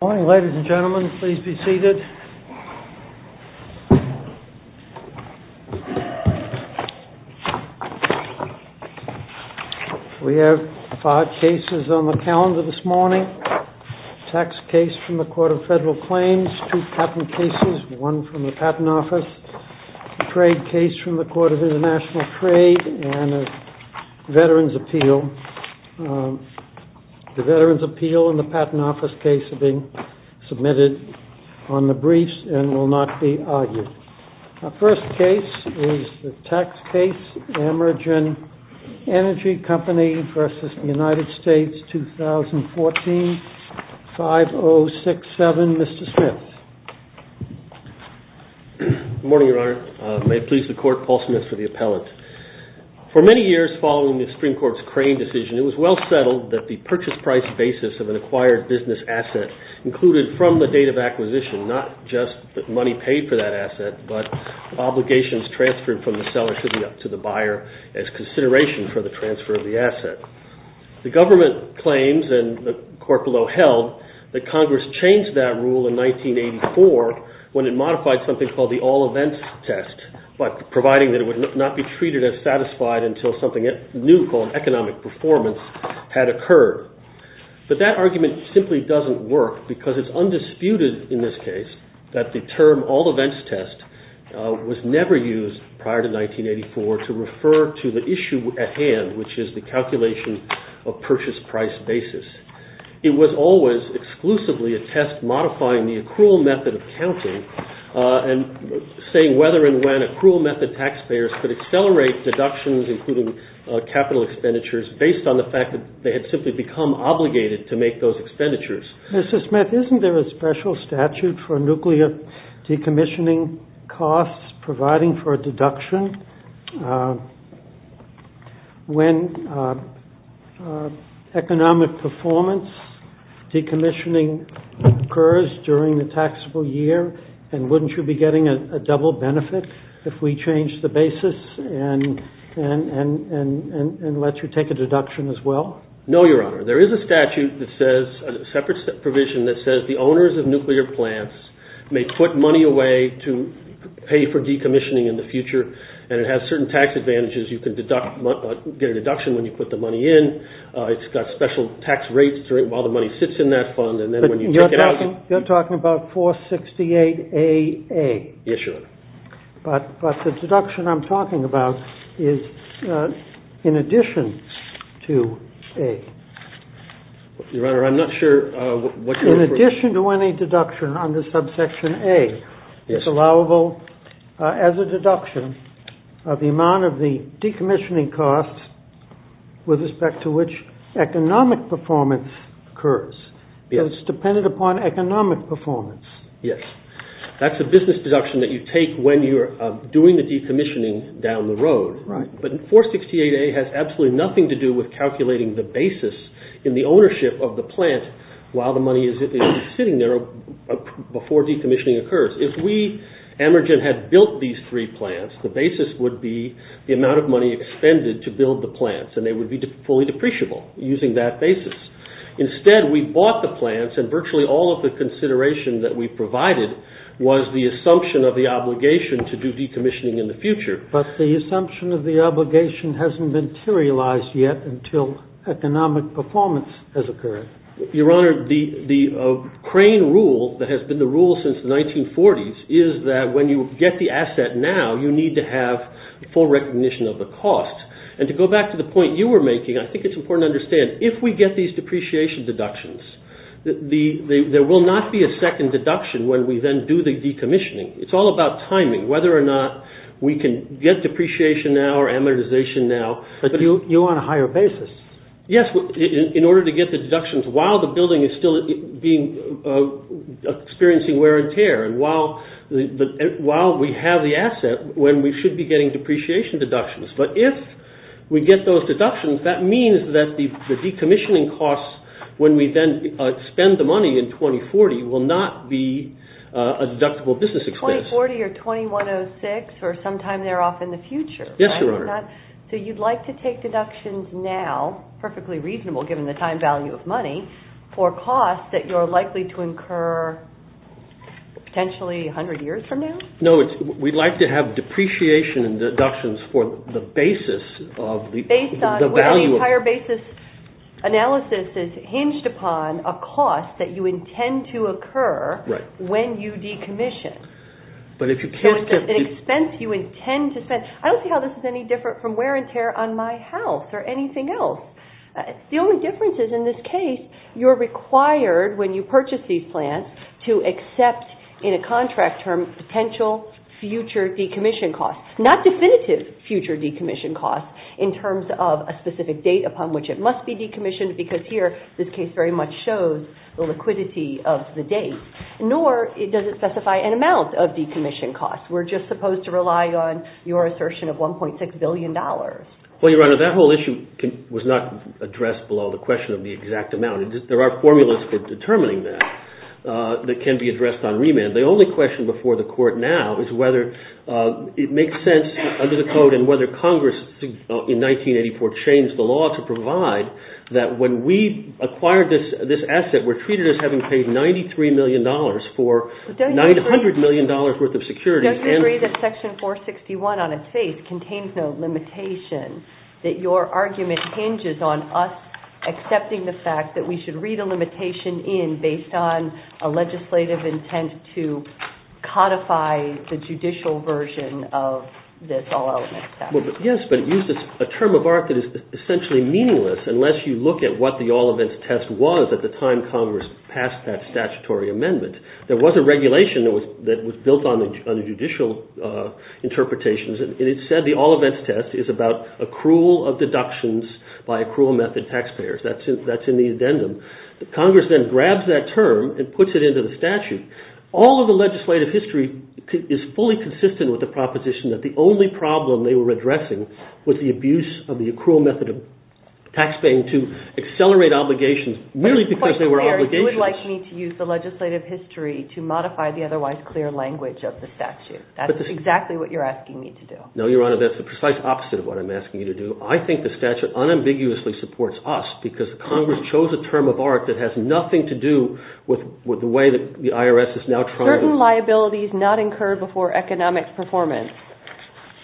Ladies and gentlemen, please be seated. We have five cases on the calendar this morning. Tax case from the Court of Federal Claims, two patent cases, one from the Patent Office, a trade case from the Court of International Trade, and a Veterans' Appeal. The Veterans' Appeal and the Patent Office case are being submitted on the briefs and will not be argued. Our first case is the tax case Amergen Energy Company v. United States, 2014, 5067. Mr. Smith. Good morning, Your Honor. May it please the Court, Paul Smith for the appellant. For many years following the Supreme Court's Crane decision, it was well settled that the purchase price basis of an acquired business asset included from the date of acquisition, not just the money paid for that asset, but obligations transferred from the seller to the buyer as consideration for the transfer of the asset. The government claims, and the court below held, that Congress changed that rule in 1984 when it modified something called the All Events Test, providing that it would not be treated as satisfied until something new called economic performance had occurred. But that argument simply doesn't work because it's undisputed in this case that the term All Events Test was never used prior to 1984 to refer to the issue at hand, which is the calculation of purchase price basis. It was always exclusively a test modifying the accrual method of counting and saying whether and when accrual method taxpayers could accelerate deductions, including capital expenditures, based on the fact that they had simply become obligated to make those expenditures. Mr. Smith, isn't there a special statute for nuclear decommissioning costs providing for a deduction when economic performance decommissioning occurs during the taxable year, and wouldn't you be getting a double benefit if we changed the basis and let you take a deduction as well? No, Your Honor. There is a statute that says, a separate provision that says, that the owners of nuclear plants may put money away to pay for decommissioning in the future, and it has certain tax advantages. You can get a deduction when you put the money in. It's got special tax rates while the money sits in that fund. You're talking about 468A-A. Yes, Your Honor. But the deduction I'm talking about is in addition to A. Your Honor, I'm not sure what you're referring to. In addition to any deduction under subsection A, it's allowable as a deduction of the amount of the decommissioning costs with respect to which economic performance occurs. It's dependent upon economic performance. Yes. That's a business deduction that you take when you're doing the decommissioning down the road. Right. But 468A-A has absolutely nothing to do with calculating the basis in the ownership of the plant while the money is sitting there before decommissioning occurs. If we, Amergen, had built these three plants, the basis would be the amount of money expended to build the plants, and they would be fully depreciable using that basis. Instead, we bought the plants, and virtually all of the consideration that we provided was the assumption of the obligation to do decommissioning in the future. But the assumption of the obligation hasn't been materialized yet until economic performance has occurred. Your Honor, the crane rule that has been the rule since the 1940s is that when you get the asset now, you need to have full recognition of the cost. And to go back to the point you were making, I think it's important to understand, if we get these depreciation deductions, there will not be a second deduction when we then do the decommissioning. It's all about timing, whether or not we can get depreciation now or amortization now. But you want a higher basis. Yes, in order to get the deductions while the building is still experiencing wear and tear, and while we have the asset, when we should be getting depreciation deductions. But if we get those deductions, that means that the decommissioning costs, when we then spend the money in 2040, will not be a deductible business expense. 2040 or 2106 or sometime thereof in the future. Yes, Your Honor. So you'd like to take deductions now, perfectly reasonable given the time value of money, for costs that you're likely to incur potentially 100 years from now? No, we'd like to have depreciation and deductions for the basis of the value. Well, the entire basis analysis is hinged upon a cost that you intend to occur when you decommission. So it's an expense you intend to spend. I don't see how this is any different from wear and tear on my house or anything else. The only difference is, in this case, you're required, when you purchase these plants, to accept in a contract term potential future decommission costs, not definitive future decommission costs in terms of a specific date upon which it must be decommissioned, because here this case very much shows the liquidity of the date, nor does it specify an amount of decommission costs. We're just supposed to rely on your assertion of $1.6 billion. Well, Your Honor, that whole issue was not addressed below the question of the exact amount. There are formulas for determining that that can be addressed on remand. The only question before the Court now is whether it makes sense under the Code and whether Congress in 1984 changed the law to provide that when we acquired this asset, we're treated as having paid $93 million for $900 million worth of security. But don't you agree that Section 461 on its face contains no limitation, that your argument hinges on us accepting the fact that we should read a limitation in based on a legislative intent to codify the judicial version of this All-Events Test? Yes, but it uses a term of art that is essentially meaningless unless you look at what the All-Events Test was at the time Congress passed that statutory amendment. There was a regulation that was built on the judicial interpretations, and it said the All-Events Test is about accrual of deductions by accrual method taxpayers. That's in the addendum. Congress then grabs that term and puts it into the statute. All of the legislative history is fully consistent with the proposition that the only problem they were addressing was the abuse of the accrual method of taxpaying to accelerate obligations merely because they were obligations. It's quite clear you would like me to use the legislative history to modify the otherwise clear language of the statute. That's exactly what you're asking me to do. No, Your Honor, that's the precise opposite of what I'm asking you to do. I think the statute unambiguously supports us because Congress chose a term of art that has nothing to do with the way that the IRS is now trying to Certain liabilities not incurred before economic performance.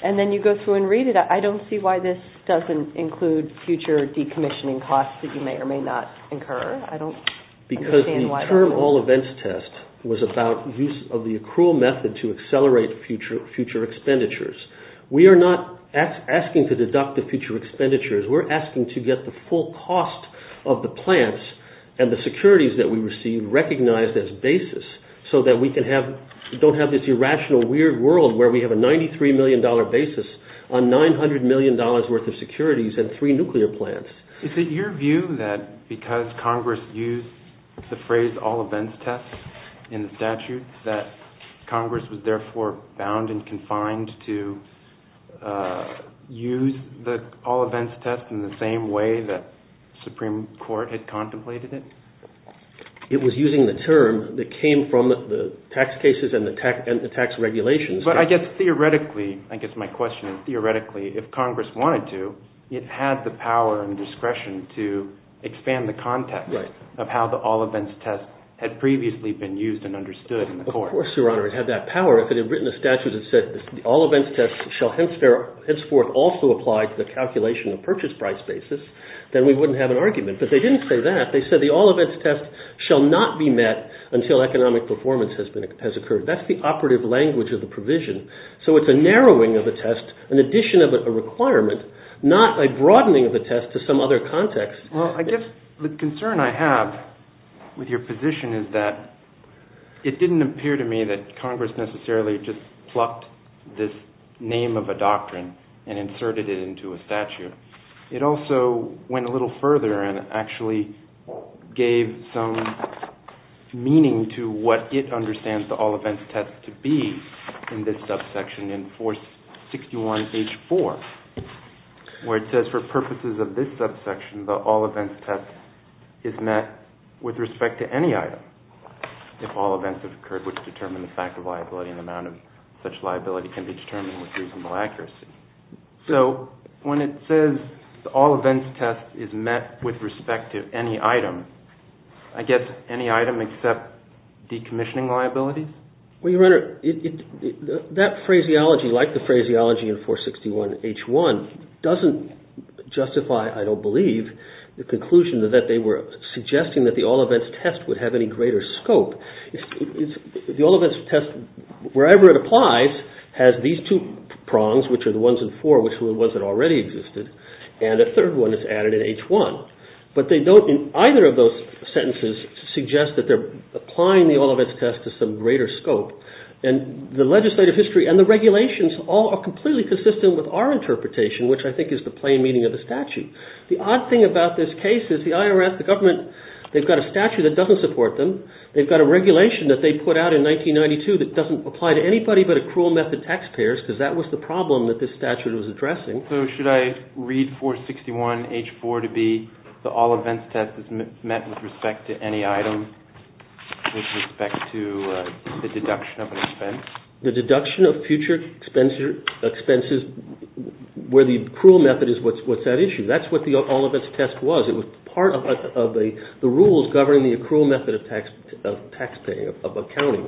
And then you go through and read it. I don't see why this doesn't include future decommissioning costs that you may or may not incur. I don't understand why. Because the term All-Events Test was about use of the accrual method to accelerate future expenditures. We are not asking to deduct the future expenditures. We're asking to get the full cost of the plants and the securities that we receive recognized as basis so that we don't have this irrational, weird world where we have a $93 million basis on $900 million worth of securities and three nuclear plants. Is it your view that because Congress used the phrase All-Events Test in the statute that Congress was therefore bound and confined to use the All-Events Test in the same way that the Supreme Court had contemplated it? It was using the term that came from the tax cases and the tax regulations. But I guess theoretically, I guess my question is theoretically, if Congress wanted to, it had the power and discretion to expand the context of how the All-Events Test had previously been used and understood in the court. Of course, Your Honor, it had that power. If it had written a statute that said All-Events Test shall henceforth also apply to the calculation of purchase price basis, then we wouldn't have an argument. But they didn't say that. They said the All-Events Test shall not be met until economic performance has occurred. That's the operative language of the provision. So it's a narrowing of the test, an addition of a requirement, not a broadening of the test to some other context. Well, I guess the concern I have with your position is that it didn't appear to me that Congress necessarily just plucked this name of a doctrine and inserted it into a statute. It also went a little further and actually gave some meaning to what it understands the All-Events Test to be in this subsection in 461H4, where it says, For purposes of this subsection, the All-Events Test is met with respect to any item. If all events have occurred which determine the fact of liability, an amount of such liability can be determined with reasonable accuracy. So when it says the All-Events Test is met with respect to any item, I guess any item except decommissioning liabilities? Well, Your Honor, that phraseology, like the phraseology in 461H1, doesn't justify, I don't believe, the conclusion that they were suggesting that the All-Events Test would have any greater scope. The All-Events Test, wherever it applies, has these two prongs, which are the ones in 4, which are the ones that already existed, and a third one is added in H1. But they don't, in either of those sentences, suggest that they're applying the All-Events Test to some greater scope. And the legislative history and the regulations all are completely consistent with our interpretation, which I think is the plain meaning of the statute. The odd thing about this case is the IRS, the government, they've got a statute that doesn't support them. They've got a regulation that they put out in 1992 that doesn't apply to anybody but accrual method taxpayers, because that was the problem that this statute was addressing. So should I read 461H4 to be, the All-Events Test is met with respect to any item, with respect to the deduction of an expense? The deduction of future expenses, where the accrual method is what's at issue. That's what the All-Events Test was. It was part of the rules governing the accrual method of taxpaying, of accounting.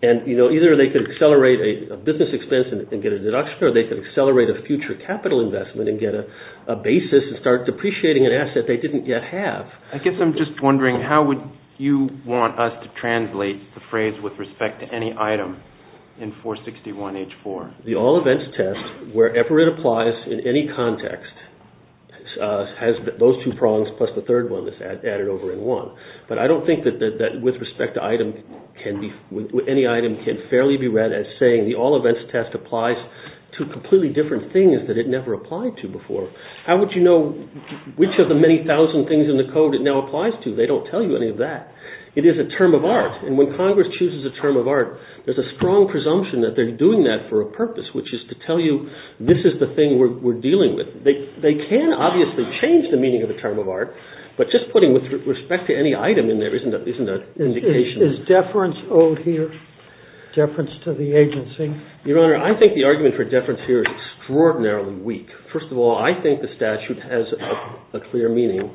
And either they could accelerate a business expense and get a deduction, or they could accelerate a future capital investment and get a basis and start depreciating an asset they didn't yet have. I guess I'm just wondering, how would you want us to translate the phrase with respect to any item in 461H4? The All-Events Test, wherever it applies in any context, has those two prongs plus the third one that's added over in one. But I don't think that with respect to item can be, any item can fairly be read as saying the All-Events Test applies to completely different things that it never applied to before. How would you know which of the many thousand things in the code it now applies to? They don't tell you any of that. It is a term of art. And when Congress chooses a term of art, there's a strong presumption that they're doing that for a purpose, which is to tell you this is the thing we're dealing with. They can obviously change the meaning of the term of art, but just putting with respect to any item in there isn't an indication. Is deference owed here? Deference to the agency? Your Honor, I think the argument for deference here is extraordinarily weak. First of all, I think the statute has a clear meaning.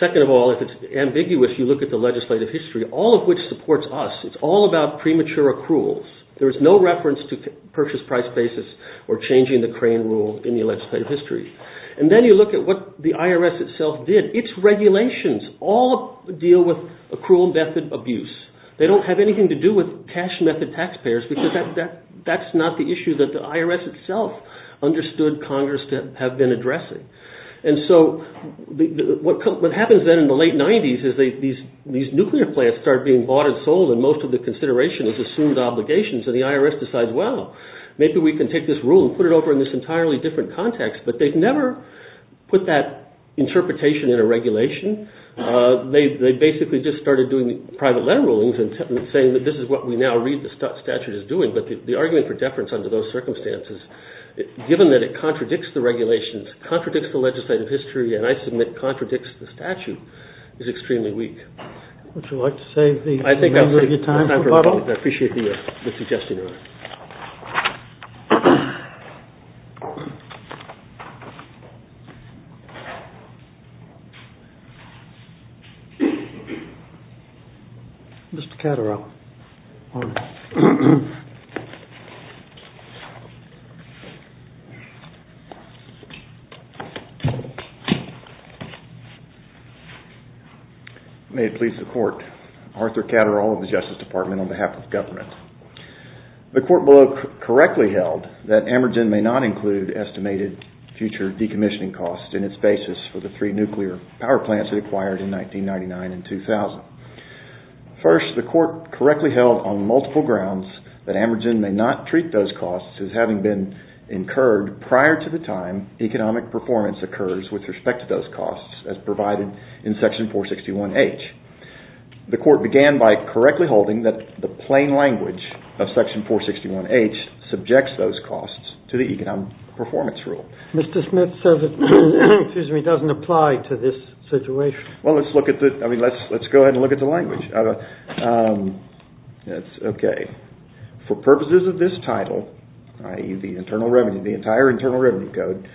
Second of all, if it's ambiguous, you look at the legislative history, all of which supports us. It's all about premature accruals. There is no reference to purchase price basis or changing the crane rule in the legislative history. And then you look at what the IRS itself did. Its regulations all deal with accrual method abuse. They don't have anything to do with cash method taxpayers because that's not the issue that the IRS itself understood Congress to have been addressing. And so what happens then in the late 90s is these nuclear plants start being bought and sold and most of the consideration is assumed obligations and the IRS decides, well, maybe we can take this rule and put it over in this entirely different context, but they've never put that interpretation in a regulation. They basically just started doing private letter rulings and saying that this is what we now read the statute is doing, but the argument for deference under those circumstances, given that it contradicts the regulations, contradicts the legislative history, and I submit contradicts the statute, is extremely weak. Would you like to save the remainder of your time for a couple? I appreciate the suggestion. Mr. Catterall. Arthur Catterall of the Justice Department on behalf of government. The court below correctly held that Amergen may not include estimated future decommissioning costs in its basis for the three nuclear power plants it acquired in 1999 and 2000. First, the court correctly held on multiple grounds that Amergen may not treat those costs as having been incurred prior to the time economic performance occurs with respect to those costs as provided in Section 461H. The court began by correctly holding that the plain language of Section 461H subjects those costs to the economic performance rule. Mr. Smith says it doesn't apply to this situation. Well, let's go ahead and look at the language. Okay. For purposes of this title, i.e., the internal revenue, the entire Internal Revenue Code,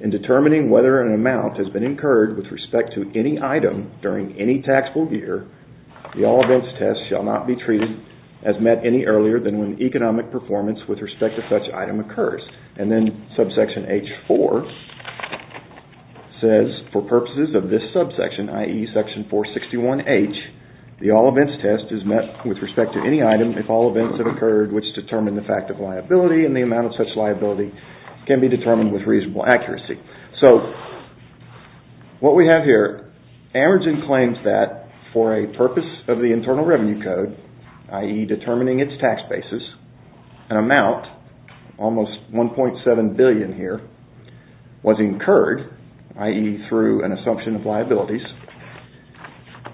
in determining whether an amount has been incurred with respect to any item during any taxable year, the all events test shall not be treated as met any earlier than when economic performance with respect to such item occurs. And then Subsection H4 says, for purposes of this subsection, i.e., Section 461H, the all events test is met with respect to any item if all events have occurred which determine the fact of liability and the amount of such liability can be determined with reasonable accuracy. So what we have here, Amergen claims that for a purpose of the Internal Revenue Code, i.e., determining its tax basis, an amount, almost $1.7 billion here, was incurred, i.e., through an assumption of liabilities,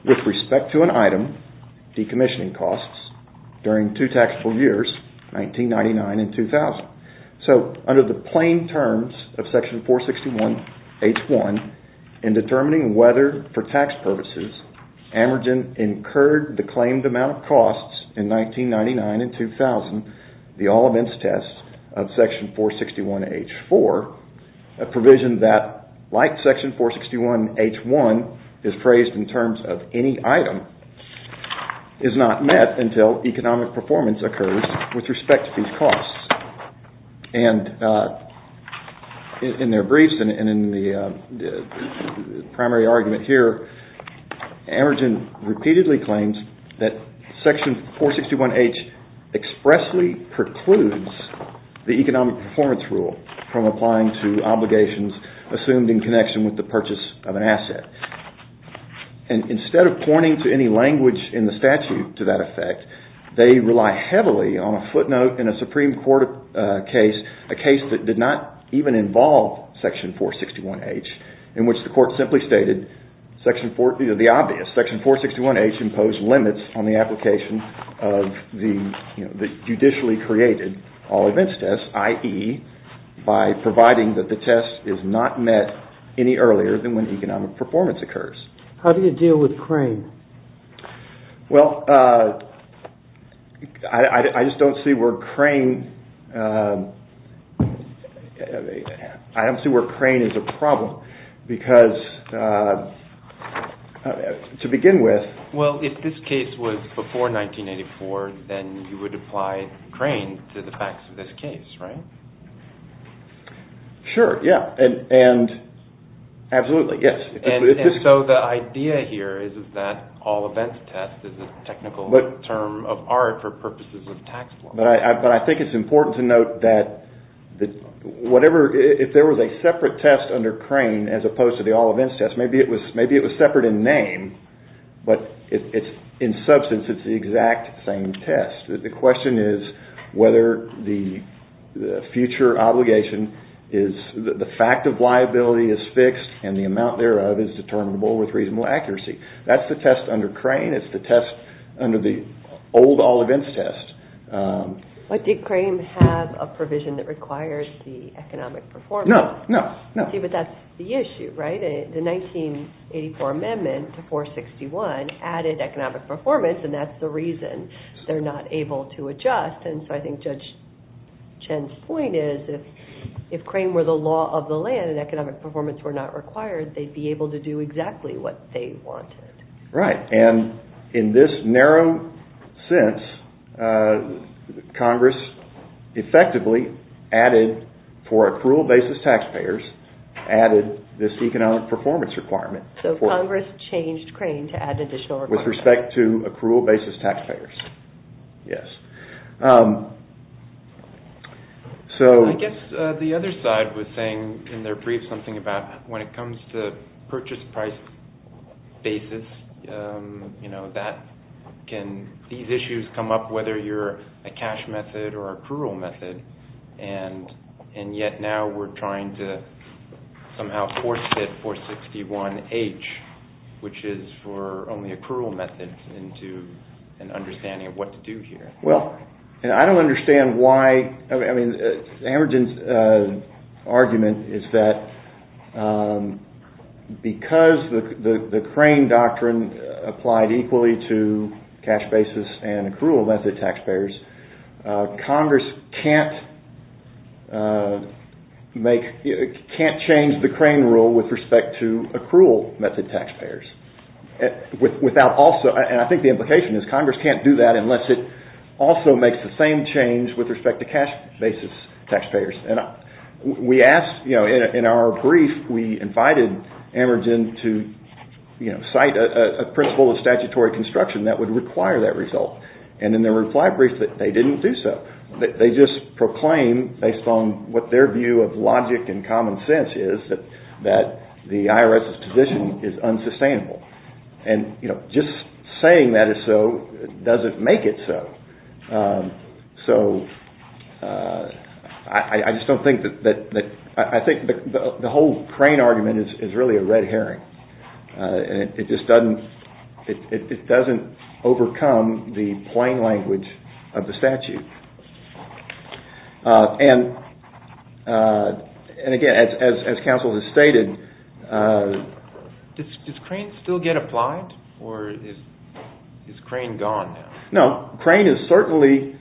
with respect to an item decommissioning costs during two taxable years, 1999 and 2000. So, under the plain terms of Section 461H1, in determining whether, for tax purposes, Amergen incurred the claimed amount of costs in 1999 and 2000, the all events test of Section 461H4, a provision that, like Section 461H1, is phrased in terms of any item, is not met until economic performance occurs with respect to these costs. And in their briefs and in the primary argument here, Amergen repeatedly claims that Section 461H expressly precludes the economic performance rule from applying to obligations assumed in connection with the purchase of an asset. And instead of pointing to any language in the statute to that effect, they rely heavily on a footnote in a Supreme Court case, a case that did not even involve Section 461H, in which the Court simply stated the obvious, Section 461H imposed limits on the application of the judicially created all events test, i.e., by providing that the test is not met any earlier than when economic performance occurs. How do you deal with Crane? Well, I just don't see where Crane is a problem because, to begin with… Well, if this case was before 1984, then you would apply Crane to the facts of this case, right? Sure, yeah, and absolutely, yes. And so the idea here is that all events test is a technical term of art for purposes of tax law. But I think it's important to note that whatever – if there was a separate test under Crane as opposed to the all events test, maybe it was separate in name, but in substance it's the exact same test. The question is whether the future obligation is – the amount thereof is determinable with reasonable accuracy. That's the test under Crane. It's the test under the old all events test. But did Crane have a provision that requires the economic performance? No, no, no. See, but that's the issue, right? The 1984 amendment to 461 added economic performance, and that's the reason they're not able to adjust. And so I think Judge Chen's point is if Crane were the law of the land and economic performance were not required, they'd be able to do exactly what they wanted. Right, and in this narrow sense, Congress effectively added for accrual basis taxpayers, added this economic performance requirement. So Congress changed Crane to add additional requirements. With respect to accrual basis taxpayers, yes. I guess the other side was saying in their brief something about when it comes to purchase price basis, can these issues come up whether you're a cash method or accrual method, and yet now we're trying to somehow force it 461H, which is for only accrual methods into an understanding of what to do here. Well, I don't understand why, I mean, Amergen's argument is that because the Crane doctrine applied equally to cash basis and accrual method taxpayers, Congress can't change the Crane rule with respect to accrual method taxpayers. And I think the implication is Congress can't do that unless it also makes the same change with respect to cash basis taxpayers. In our brief, we invited Amergen to cite a principle of statutory construction that would require that result. And in their reply brief, they didn't do so. They just proclaim, based on what their view of logic and common sense is, that the IRS's position is unsustainable. And just saying that is so doesn't make it so. So I just don't think that – I think the whole Crane argument is really a red herring. It just doesn't – it doesn't overcome the plain language of the statute. And again, as counsel has stated – Does Crane still get applied or is Crane gone now? No, Crane is certainly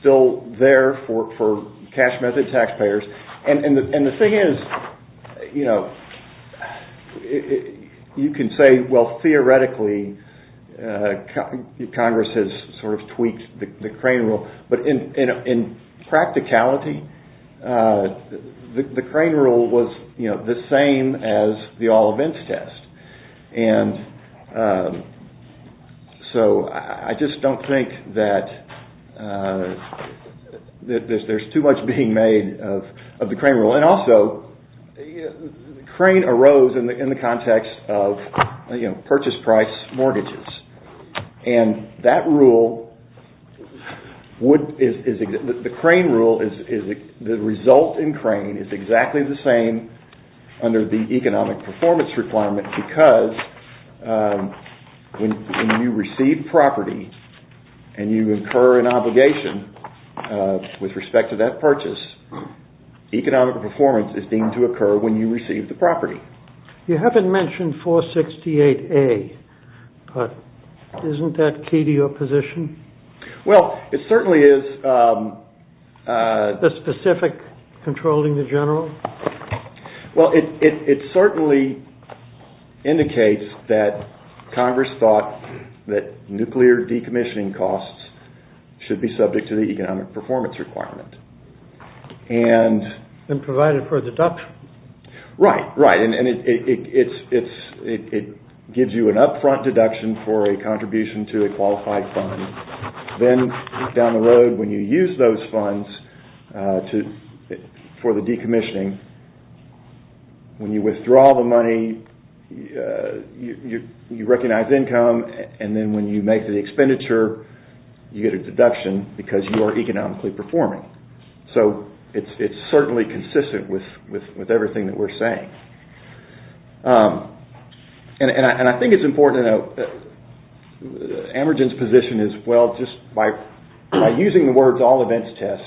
still there for cash method taxpayers. And the thing is, you know, you can say, well, theoretically, Congress has sort of tweaked the Crane rule. But in practicality, the Crane rule was, you know, the same as the all events test. And so I just don't think that there's too much being made of the Crane rule. And also, Crane arose in the context of, you know, purchase price mortgages. And that rule would – the Crane rule is – the result in Crane is exactly the same under the economic performance requirement because when you receive property and you incur an obligation with respect to that purchase, economic performance is deemed to occur when you receive the property. You haven't mentioned 468A, but isn't that key to your position? Well, it certainly is. The specific controlling the general? Well, it certainly indicates that Congress thought that nuclear decommissioning costs should be subject to the economic performance requirement. And provided for a deduction? Right, right. And it gives you an upfront deduction for a contribution to a qualified fund. Then down the road, when you use those funds for the decommissioning, when you withdraw the money, you recognize income. And then when you make the expenditure, you get a deduction because you are economically performing. So it's certainly consistent with everything that we're saying. And I think it's important to note that Amergen's position is, well, just by using the words all events test,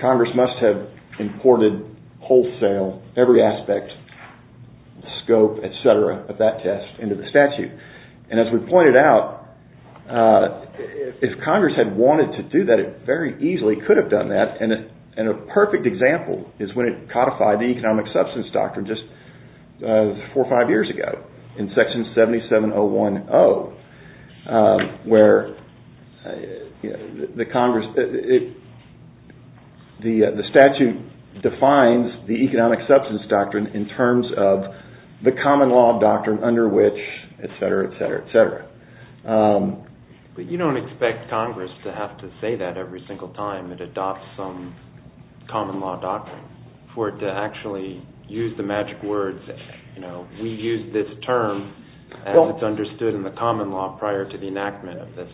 Congress must have imported wholesale, every aspect, scope, et cetera, of that test into the statute. And as we pointed out, if Congress had wanted to do that, it very easily could have done that. And a perfect example is when it codified the economic substance doctrine just four or five years ago, in section 77010, where the statute defines the economic substance doctrine in terms of the common law doctrine under which, et cetera, et cetera, et cetera. But you don't expect Congress to have to say that every single time it adopts some common law doctrine, for it to actually use the magic words, you know, we use this term as it's understood in the common law prior to the enactment of this.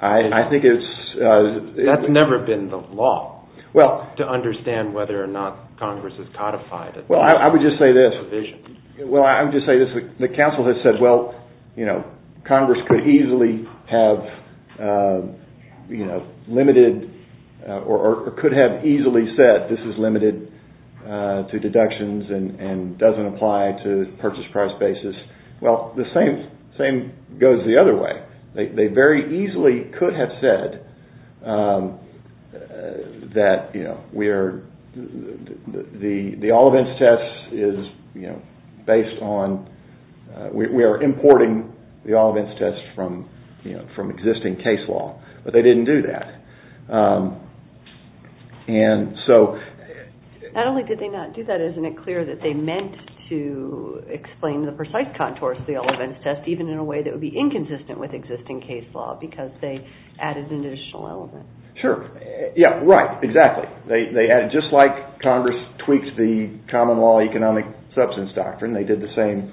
I think it's... That's never been the law, to understand whether or not Congress has codified it. Well, I would just say this. Well, I would just say this. The council has said, well, you know, Congress could easily have, you know, limited or could have easily said this is limited to deductions and doesn't apply to purchase price basis. Well, the same goes the other way. They very easily could have said that, you know, we are... The all events test is, you know, based on... We are importing the all events test from, you know, from existing case law. But they didn't do that. And so... Not only did they not do that, isn't it clear that they meant to explain the precise contours of the all events test, even in a way that would be inconsistent with existing case law, because they added an additional element. Sure. Yeah, right. Exactly. They added... Just like Congress tweaks the common law economic substance doctrine, they did the same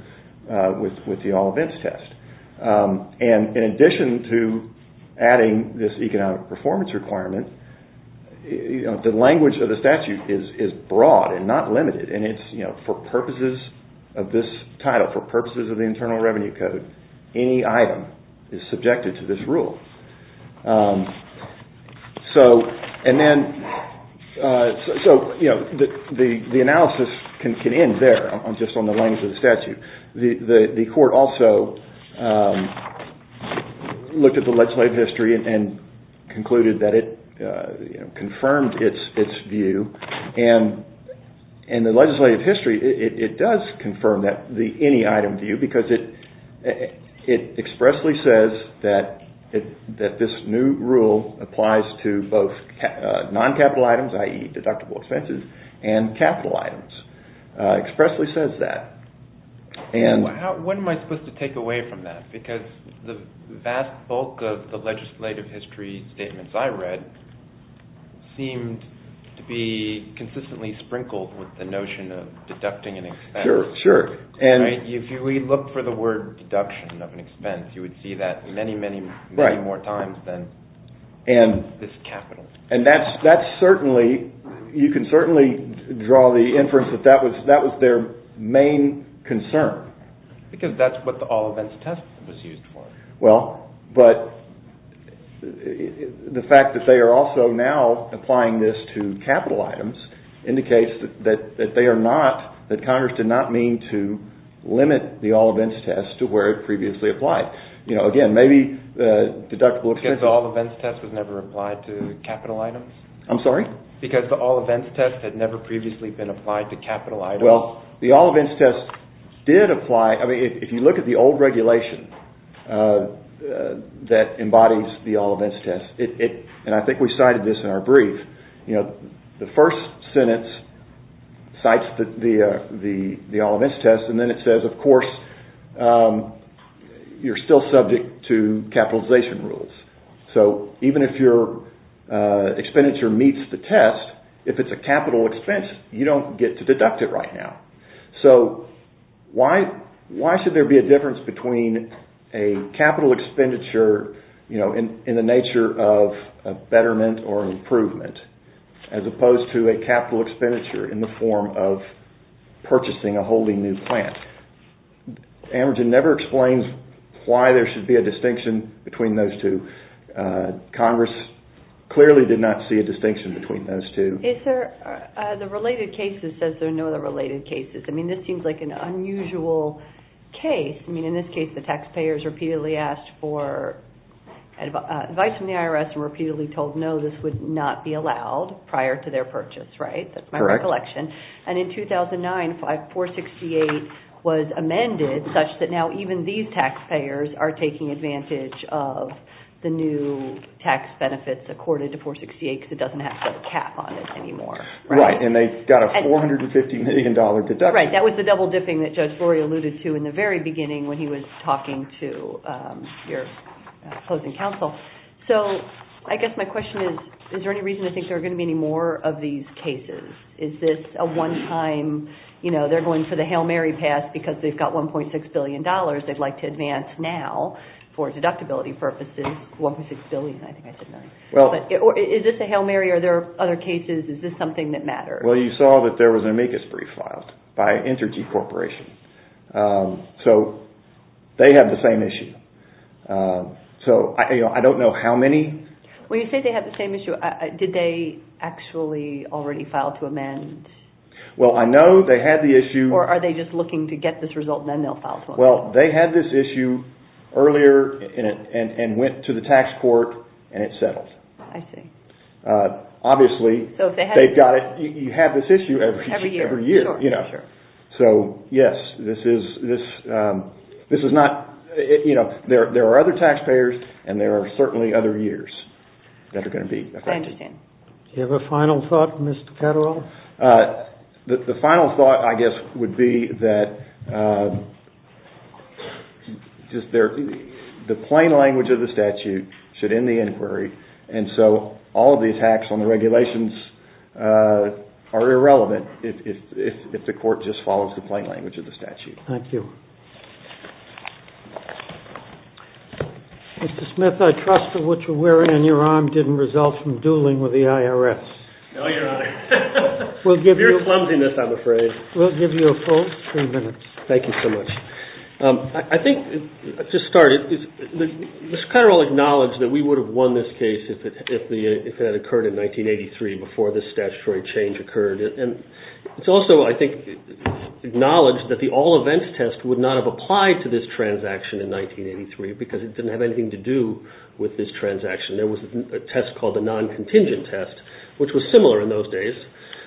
with the all events test. And in addition to adding this economic performance requirement, you know, the language of the statute is broad and not limited. And it's, you know, for purposes of this title, for purposes of the Internal Revenue Code, any item is subjected to this rule. So, and then... So, you know, the analysis can end there, just on the language of the statute. The court also looked at the legislative history and concluded that it confirmed its view. And the legislative history, it does confirm that, the any item view, because it expressly says that this new rule applies to both non-capital items, i.e. deductible expenses, and capital items. It expressly says that. And... What am I supposed to take away from that? Because the vast bulk of the legislative history statements I read seemed to be consistently sprinkled with the notion of deducting an expense. Sure, sure. And if we look for the word deduction of an expense, you would see that many, many, many more times than this capital. And that's certainly, you can certainly draw the inference that that was their main concern. Because that's what the all events test was used for. Well, but the fact that they are also now applying this to capital items indicates that they are not, that Congress did not mean to limit the all events test to where it previously applied. You know, again, maybe deductible expenses... Because the all events test was never applied to capital items? I'm sorry? Because the all events test had never previously been applied to capital items? Well, the all events test did apply. I mean, if you look at the old regulation that embodies the all events test, and I think we cited this in our brief, you know, the first sentence cites the all events test, and then it says, of course, you're still subject to capitalization rules. So, even if your expenditure meets the test, if it's a capital expense, you don't get to deduct it right now. So, why should there be a difference between a capital expenditure, you know, in the nature of a betterment or improvement, as opposed to a capital expenditure in the form of purchasing a wholly new plant? American never explains why there should be a distinction between those two. Congress clearly did not see a distinction between those two. The related cases says there are no other related cases. I mean, this seems like an unusual case. I mean, in this case, the taxpayers repeatedly asked for advice from the IRS and repeatedly told, no, this would not be allowed prior to their purchase, right? That's my recollection. And in 2009, 468 was amended such that now even these taxpayers are taking advantage of the new tax benefits accorded to 468 because it doesn't have to have a cap on it anymore, right? Right, and they've got a $450 million deduction. Right, that was the double-dipping that Judge Flory alluded to in the very beginning when he was talking to your opposing counsel. So, I guess my question is, is there any reason to think there are going to be any more of these cases? Is this a one-time, you know, they're going for the Hail Mary pass because they've got $1.6 billion they'd like to advance now for deductibility purposes. $1.6 billion, I think I said that. Is this a Hail Mary or are there other cases? Is this something that matters? Well, you saw that there was an amicus brief filed by Entergy Corporation. So, they have the same issue. So, I don't know how many. When you say they have the same issue, did they actually already file to amend? Well, I know they had the issue. Or are they just looking to get this result and then they'll file to amend? Well, they had this issue earlier and went to the tax court and it settled. I see. So, yes, this is not, you know, there are other taxpayers and there are certainly other years that are going to be affected. I understand. Do you have a final thought, Mr. Catterall? The final thought, I guess, would be that the plain language of the statute should end the inquiry. And so, all of these hacks on the regulations are irrelevant if the court just follows the plain language of the statute. Thank you. Mr. Smith, I trust that what you're wearing on your arm didn't result from dueling with the IRS. No, Your Honor. Pure clumsiness, I'm afraid. We'll give you a full three minutes. Thank you so much. I think, to start, Mr. Catterall acknowledged that we would have won this case if it had occurred in 1983 before this statutory change occurred. And it's also, I think, acknowledged that the all events test would not have applied to this transaction in 1983 because it didn't have anything to do with this transaction. There was a test called the non-contingent test, which was similar in those days.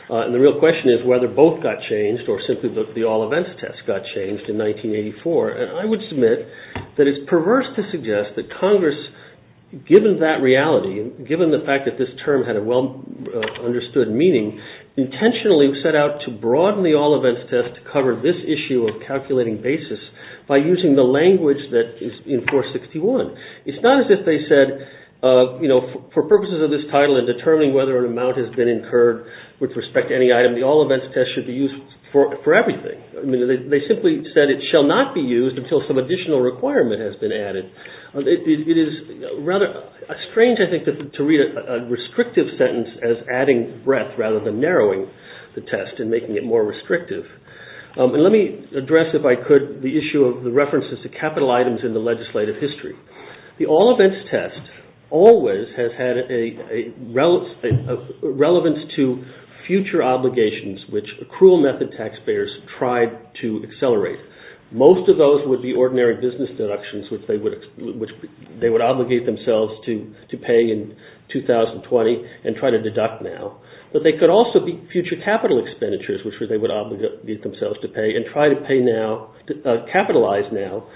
And the real question is whether both got changed or simply the all events test got changed in 1984. And I would submit that it's perverse to suggest that Congress, given that reality, given the fact that this term had a well-understood meaning, intentionally set out to broaden the all events test to cover this issue of calculating basis by using the language that is in 461. It's not as if they said, for purposes of this title and determining whether an amount has been incurred with respect to any item, the all events test should be used for everything. They simply said it shall not be used until some additional requirement has been added. It is rather strange, I think, to read a restrictive sentence as adding breadth rather than narrowing the test and making it more restrictive. And let me address, if I could, the issue of the references to capital items in the legislative history. The all events test always has had a relevance to future obligations, which accrual method taxpayers tried to accelerate. Most of those would be ordinary business deductions, which they would obligate themselves to pay in 2020 and try to deduct now. But they could also be future capital expenditures, which they would obligate themselves to pay and try to capitalize now,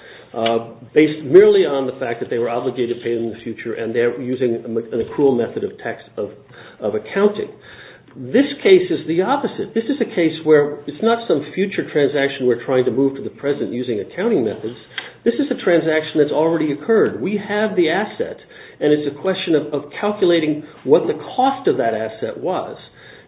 based merely on the fact that they were obligated to pay in the future and they're using an accrual method of accounting. This case is the opposite. This is a case where it's not some future transaction we're trying to move to the present using accounting methods. This is a transaction that's already occurred. We have the asset, and it's a question of calculating what the cost of that asset was.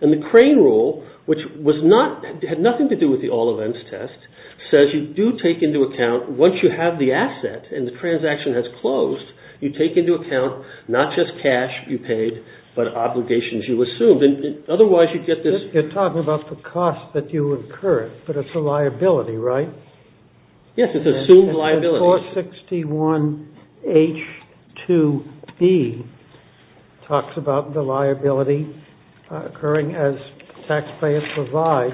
And the crane rule, which had nothing to do with the all events test, says you do take into account, once you have the asset and the transaction has closed, you take into account not just cash you paid but obligations you assumed. Otherwise, you get this. You're talking about the cost that you incurred, but it's a liability, right? Yes, it's assumed liability. 461H2B talks about the liability occurring as taxpayers provide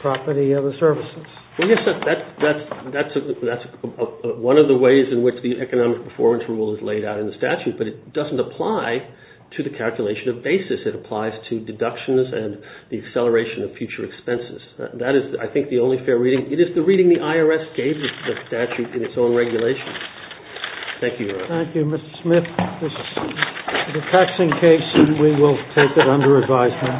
property or the services. Well, yes, that's one of the ways in which the economic performance rule is laid out in the statute, but it doesn't apply to the calculation of basis. It applies to deductions and the acceleration of future expenses. That is, I think, the only fair reading. It is the reading the IRS gave the statute in its own regulation. Thank you, Your Honor. Thank you, Mr. Smith. This is a taxing case, and we will take it under advisement.